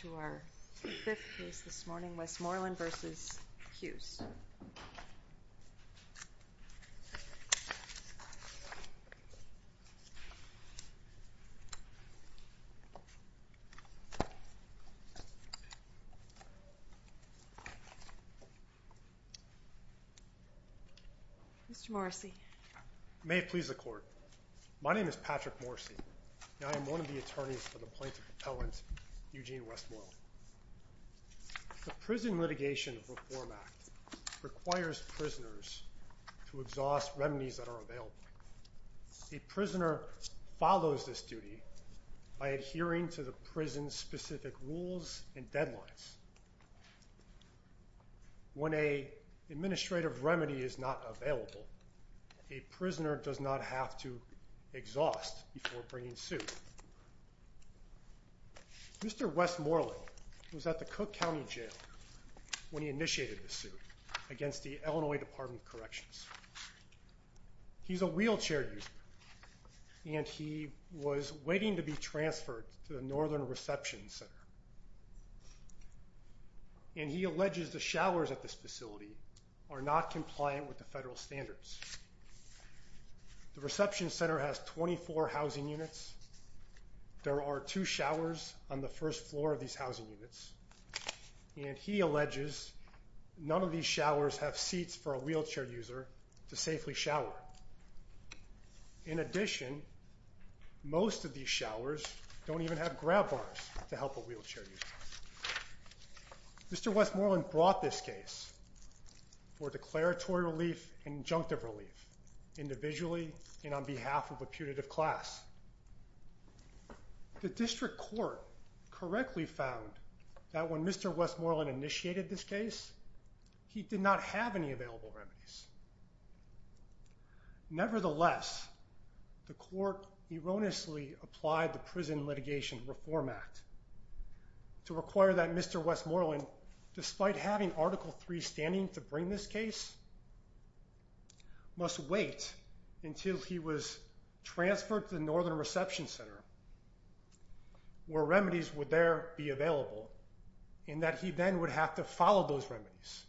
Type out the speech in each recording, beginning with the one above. to our fifth case this morning, Westmoreland v. Hughes. Mr. Morrissey. May it please the Court. My name is Patrick Morrissey, and I am one of the attorneys for the plaintiff appellant Eugene Westmoreland. The Prison Litigation Reform Act requires prisoners to exhaust remedies that are available. A prisoner follows this duty by adhering to the prison's specific rules and deadlines. When an administrative remedy is not available, a prisoner does not have to exhaust before bringing suit. Mr. Westmoreland was at the Cook County Jail when he initiated the suit against the Illinois Department of Corrections. He's a wheelchair user, and he was waiting to be transferred to the Northern Reception Center. And he alleges the showers at this facility are not compliant with the federal standards. The reception center has 24 housing units. There are two showers on the first floor of these housing units. And he alleges none of these showers have seats for a wheelchair user to safely shower. In addition, most of these showers don't even have grab bars to help a wheelchair user. Mr. Westmoreland brought this case for declaratory relief and injunctive relief, individually and on behalf of a punitive class. The district court correctly found that when Mr. Westmoreland initiated this case, he did not have any available remedies. Nevertheless, the court erroneously applied the Prison Litigation Reform Act to require that Mr. Westmoreland, despite having Article III standing to bring this case, must wait until he was transferred to the Northern Reception Center where remedies would there be available, and that he then would have to follow those remedies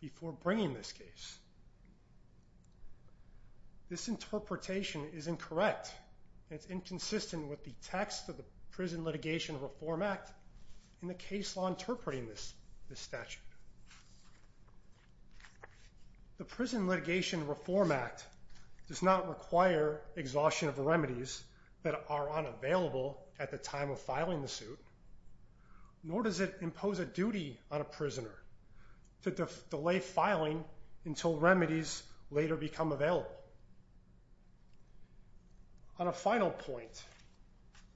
before bringing this case. This interpretation is incorrect, and it's inconsistent with the text of the Prison Litigation Reform Act and the case law interpreting this statute. The Prison Litigation Reform Act does not require exhaustion of the remedies that are unavailable at the time of filing the suit, nor does it impose a duty on a prisoner to delay filing until remedies later become available. On a final point,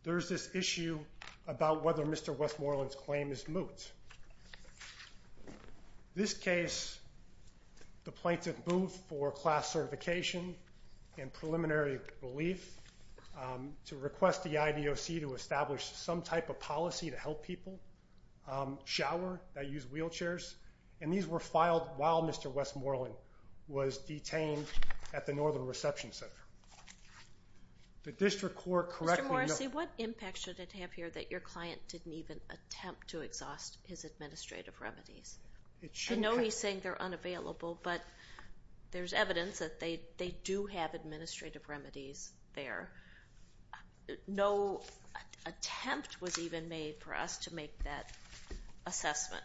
there's this issue about whether Mr. Westmoreland's claim is moot. This case, the plaintiff moved for class certification and preliminary relief to request the IDOC to establish some type of policy to help people shower that use wheelchairs, and these were filed while Mr. Westmoreland was detained at the Northern Reception Center. Mr. Morrissey, what impact should it have here that your client didn't even attempt to exhaust his administrative remedies? I know he's saying they're unavailable, but there's evidence that they do have administrative remedies there. No attempt was even made for us to make that assessment.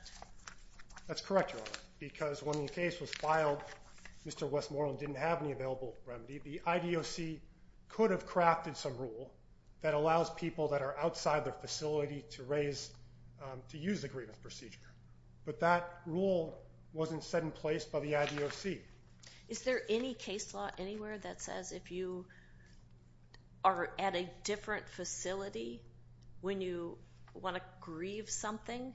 That's correct, Your Honor, because when the case was filed, Mr. Westmoreland didn't have any available remedy. The IDOC could have crafted some rule that allows people that are outside their facility to use the grievance procedure, but that rule wasn't set in place by the IDOC. Is there any case law anywhere that says if you are at a different facility when you want to grieve something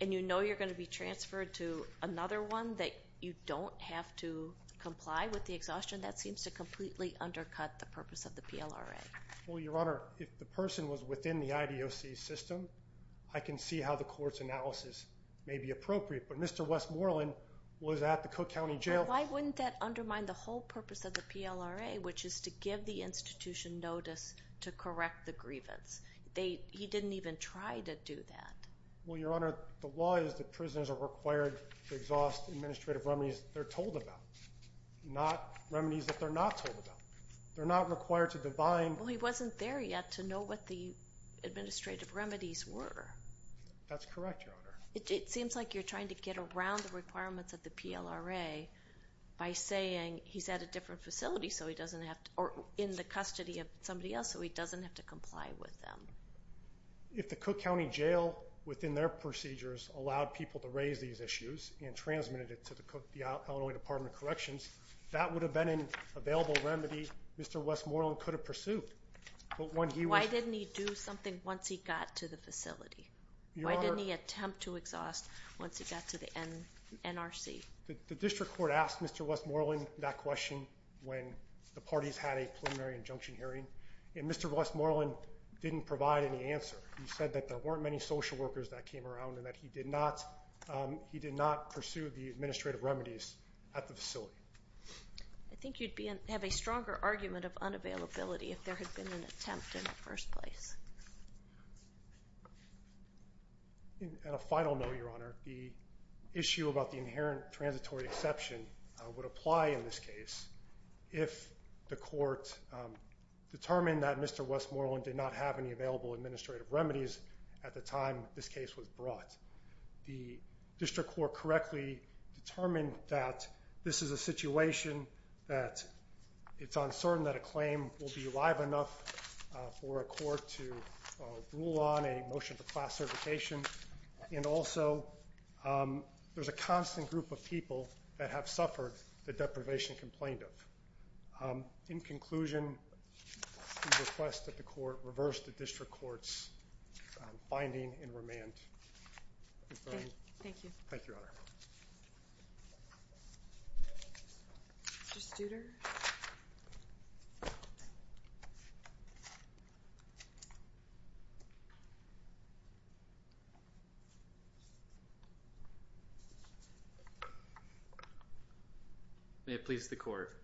and you know you're going to be transferred to another one that you don't have to comply with the exhaustion, that seems to completely undercut the purpose of the PLRA? Well, Your Honor, if the person was within the IDOC system, I can see how the court's analysis may be appropriate, but Mr. Westmoreland was at the Cook County Jail. Why wouldn't that undermine the whole purpose of the PLRA, which is to give the institution notice to correct the grievance? He didn't even try to do that. Well, Your Honor, the law is that prisoners are required to exhaust administrative remedies they're told about, not remedies that they're not told about. They're not required to divine. Well, he wasn't there yet to know what the administrative remedies were. That's correct, Your Honor. It seems like you're trying to get around the requirements of the PLRA by saying he's at a different facility or in the custody of somebody else so he doesn't have to comply with them. If the Cook County Jail, within their procedures, allowed people to raise these issues and transmitted it to the Illinois Department of Corrections, that would have been an available remedy Mr. Westmoreland could have pursued. Why didn't he do something once he got to the facility? Why didn't he attempt to exhaust once he got to the NRC? The district court asked Mr. Westmoreland that question when the parties had a preliminary injunction hearing, and Mr. Westmoreland didn't provide any answer. He said that there weren't many social workers that came around and that he did not pursue the administrative remedies at the facility. I think you'd have a stronger argument of unavailability if there had been an attempt in the first place. At a final note, Your Honor, the issue about the inherent transitory exception would apply in this case if the court determined that Mr. Westmoreland did not have any available administrative remedies at the time this case was brought. The district court correctly determined that this is a situation that it's uncertain that a claim will be alive enough for a court to rule on a motion for class certification, and also there's a constant group of people that have suffered the deprivation complained of. In conclusion, we request that the court reverse the district court's finding and remand. Thank you. Thank you, Your Honor. Mr. Studer? May it please the court.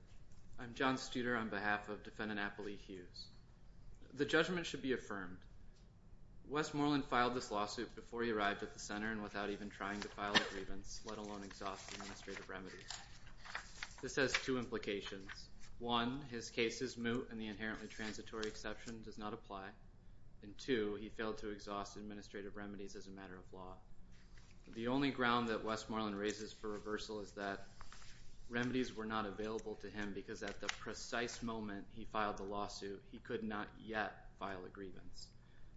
I'm John Studer on behalf of Defendant Appley Hughes. The judgment should be affirmed. Westmoreland filed this lawsuit before he arrived at the center and without even trying to file a grievance, let alone exhaust administrative remedies. This has two implications. One, his case is moot and the inherently transitory exception does not apply, and two, he failed to exhaust administrative remedies as a matter of law. The only ground that Westmoreland raises for reversal is that remedies were not available to him because at the precise moment he filed the lawsuit, he could not yet file a grievance.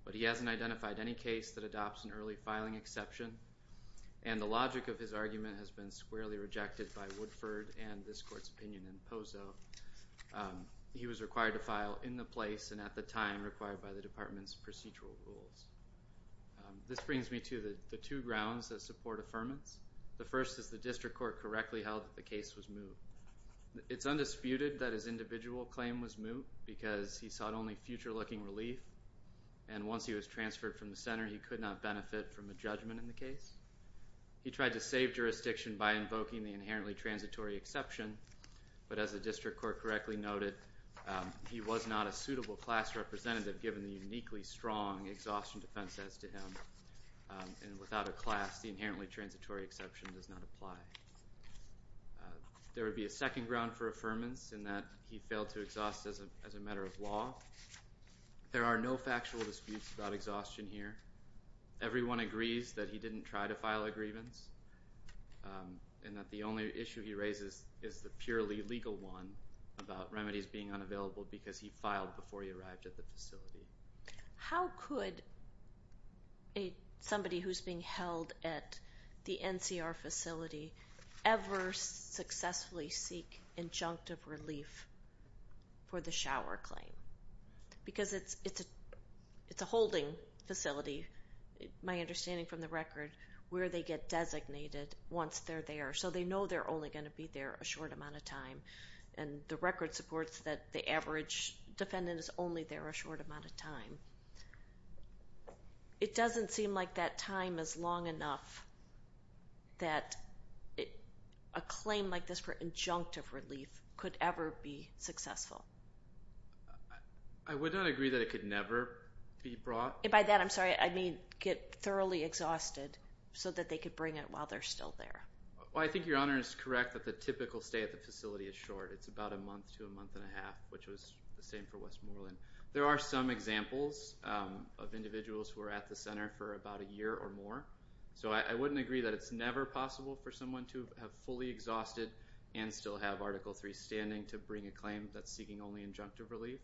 But he hasn't identified any case that adopts an early filing exception, and the logic of his argument has been squarely rejected by Woodford and this court's opinion in Pozo. He was required to file in the place and at the time required by the department's procedural rules. This brings me to the two grounds that support affirmance. The first is the district court correctly held that the case was moot. It's undisputed that his individual claim was moot because he sought only future-looking relief, and once he was transferred from the center, he could not benefit from a judgment in the case. He tried to save jurisdiction by invoking the inherently transitory exception, but as the district court correctly noted, he was not a suitable class representative given the uniquely strong exhaustion defense as to him, and without a class, the inherently transitory exception does not apply. There would be a second ground for affirmance in that he failed to exhaust as a matter of law. There are no factual disputes about exhaustion here. Everyone agrees that he didn't try to file a grievance and that the only issue he raises is the purely legal one about remedies being unavailable because he filed before he arrived at the facility. How could somebody who's being held at the NCR facility ever successfully seek injunctive relief for the shower claim? Because it's a holding facility, my understanding from the record, where they get designated once they're there, so they know they're only going to be there a short amount of time, and the record supports that the average defendant is only there a short amount of time. It doesn't seem like that time is long enough that a claim like this for injunctive relief could ever be successful. I would not agree that it could never be brought. By that, I'm sorry, I mean get thoroughly exhausted so that they could bring it while they're still there. I think Your Honor is correct that the typical stay at the facility is short. It's about a month to a month and a half, which was the same for Westmoreland. There are some examples of individuals who are at the center for about a year or more, so I wouldn't agree that it's never possible for someone to have fully exhausted and still have Article III standing to bring a claim that's seeking only injunctive relief.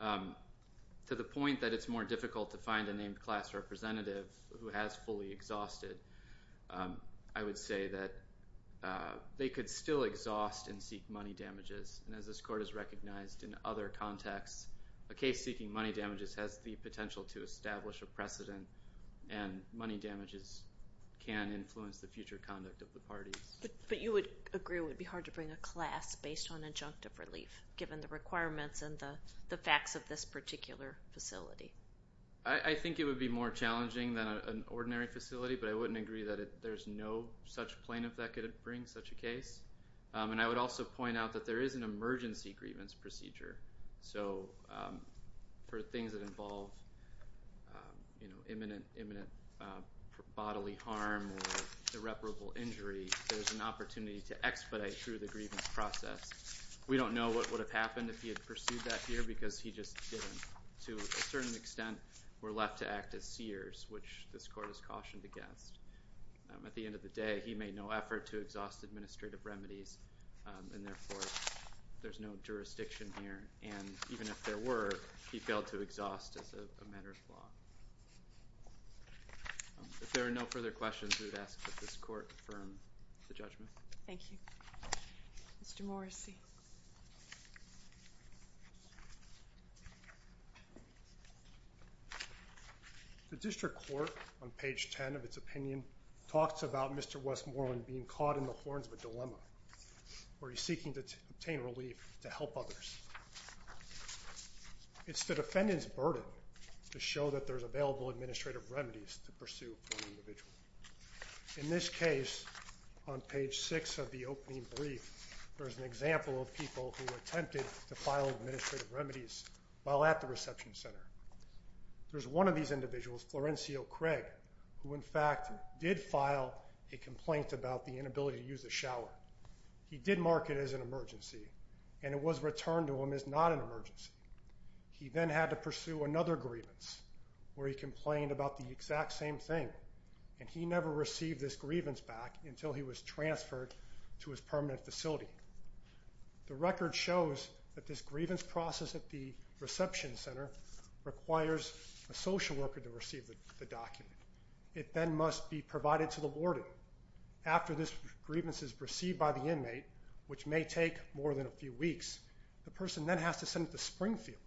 To the point that it's more difficult to find a named class representative who has fully exhausted, I would say that they could still exhaust and seek money damages. As this Court has recognized in other contexts, a case seeking money damages has the potential to establish a precedent, and money damages can influence the future conduct of the parties. But you would agree it would be hard to bring a class based on injunctive relief given the requirements and the facts of this particular facility? I think it would be more challenging than an ordinary facility, but I wouldn't agree that there's no such plaintiff that could bring such a case. And I would also point out that there is an emergency grievance procedure. So for things that involve imminent bodily harm or irreparable injury, there's an opportunity to expedite through the grievance process. We don't know what would have happened if he had pursued that here because he just didn't. To a certain extent, we're left to act as seers, which this Court has cautioned against. At the end of the day, he made no effort to exhaust administrative remedies, and therefore there's no jurisdiction here. And even if there were, he failed to exhaust as a matter of law. If there are no further questions, I would ask that this Court confirm the judgment. Thank you. Mr. Morrissey. The District Court, on page 10 of its opinion, talks about Mr. Westmoreland being caught in the horns of a dilemma where he's seeking to obtain relief to help others. It's the defendant's burden to show that there's available administrative remedies to pursue for an individual. In this case, on page 6 of the opening brief, there's an example of people who attempted to file administrative remedies while at the reception center. There's one of these individuals, Florencio Craig, who in fact did file a complaint about the inability to use the shower. He did mark it as an emergency, and it was returned to him as not an emergency. He then had to pursue another grievance where he complained about the exact same thing, and he never received this grievance back until he was transferred to his permanent facility. The record shows that this grievance process at the reception center requires a social worker to receive the document. It then must be provided to the warden. After this grievance is received by the inmate, which may take more than a few weeks, the person then has to send it to Springfield.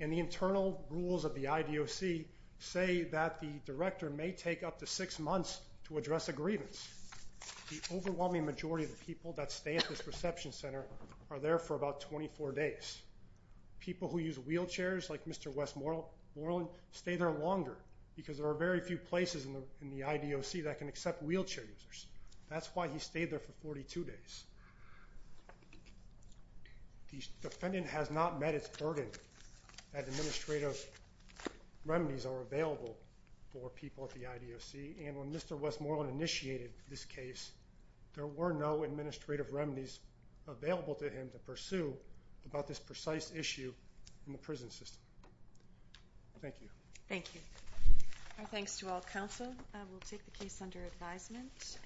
And the internal rules of the IDOC say that the director may take up to six months to address a grievance. The overwhelming majority of the people that stay at this reception center are there for about 24 days. People who use wheelchairs, like Mr. Westmoreland, stay there longer because there are very few places in the IDOC that can accept wheelchair users. That's why he stayed there for 42 days. The defendant has not met its burden that administrative remedies are available for people at the IDOC, and when Mr. Westmoreland initiated this case, there were no administrative remedies available to him to pursue about this precise issue in the prison system. Thank you. Thank you. Our thanks to all counsel. We'll take the case under advisement.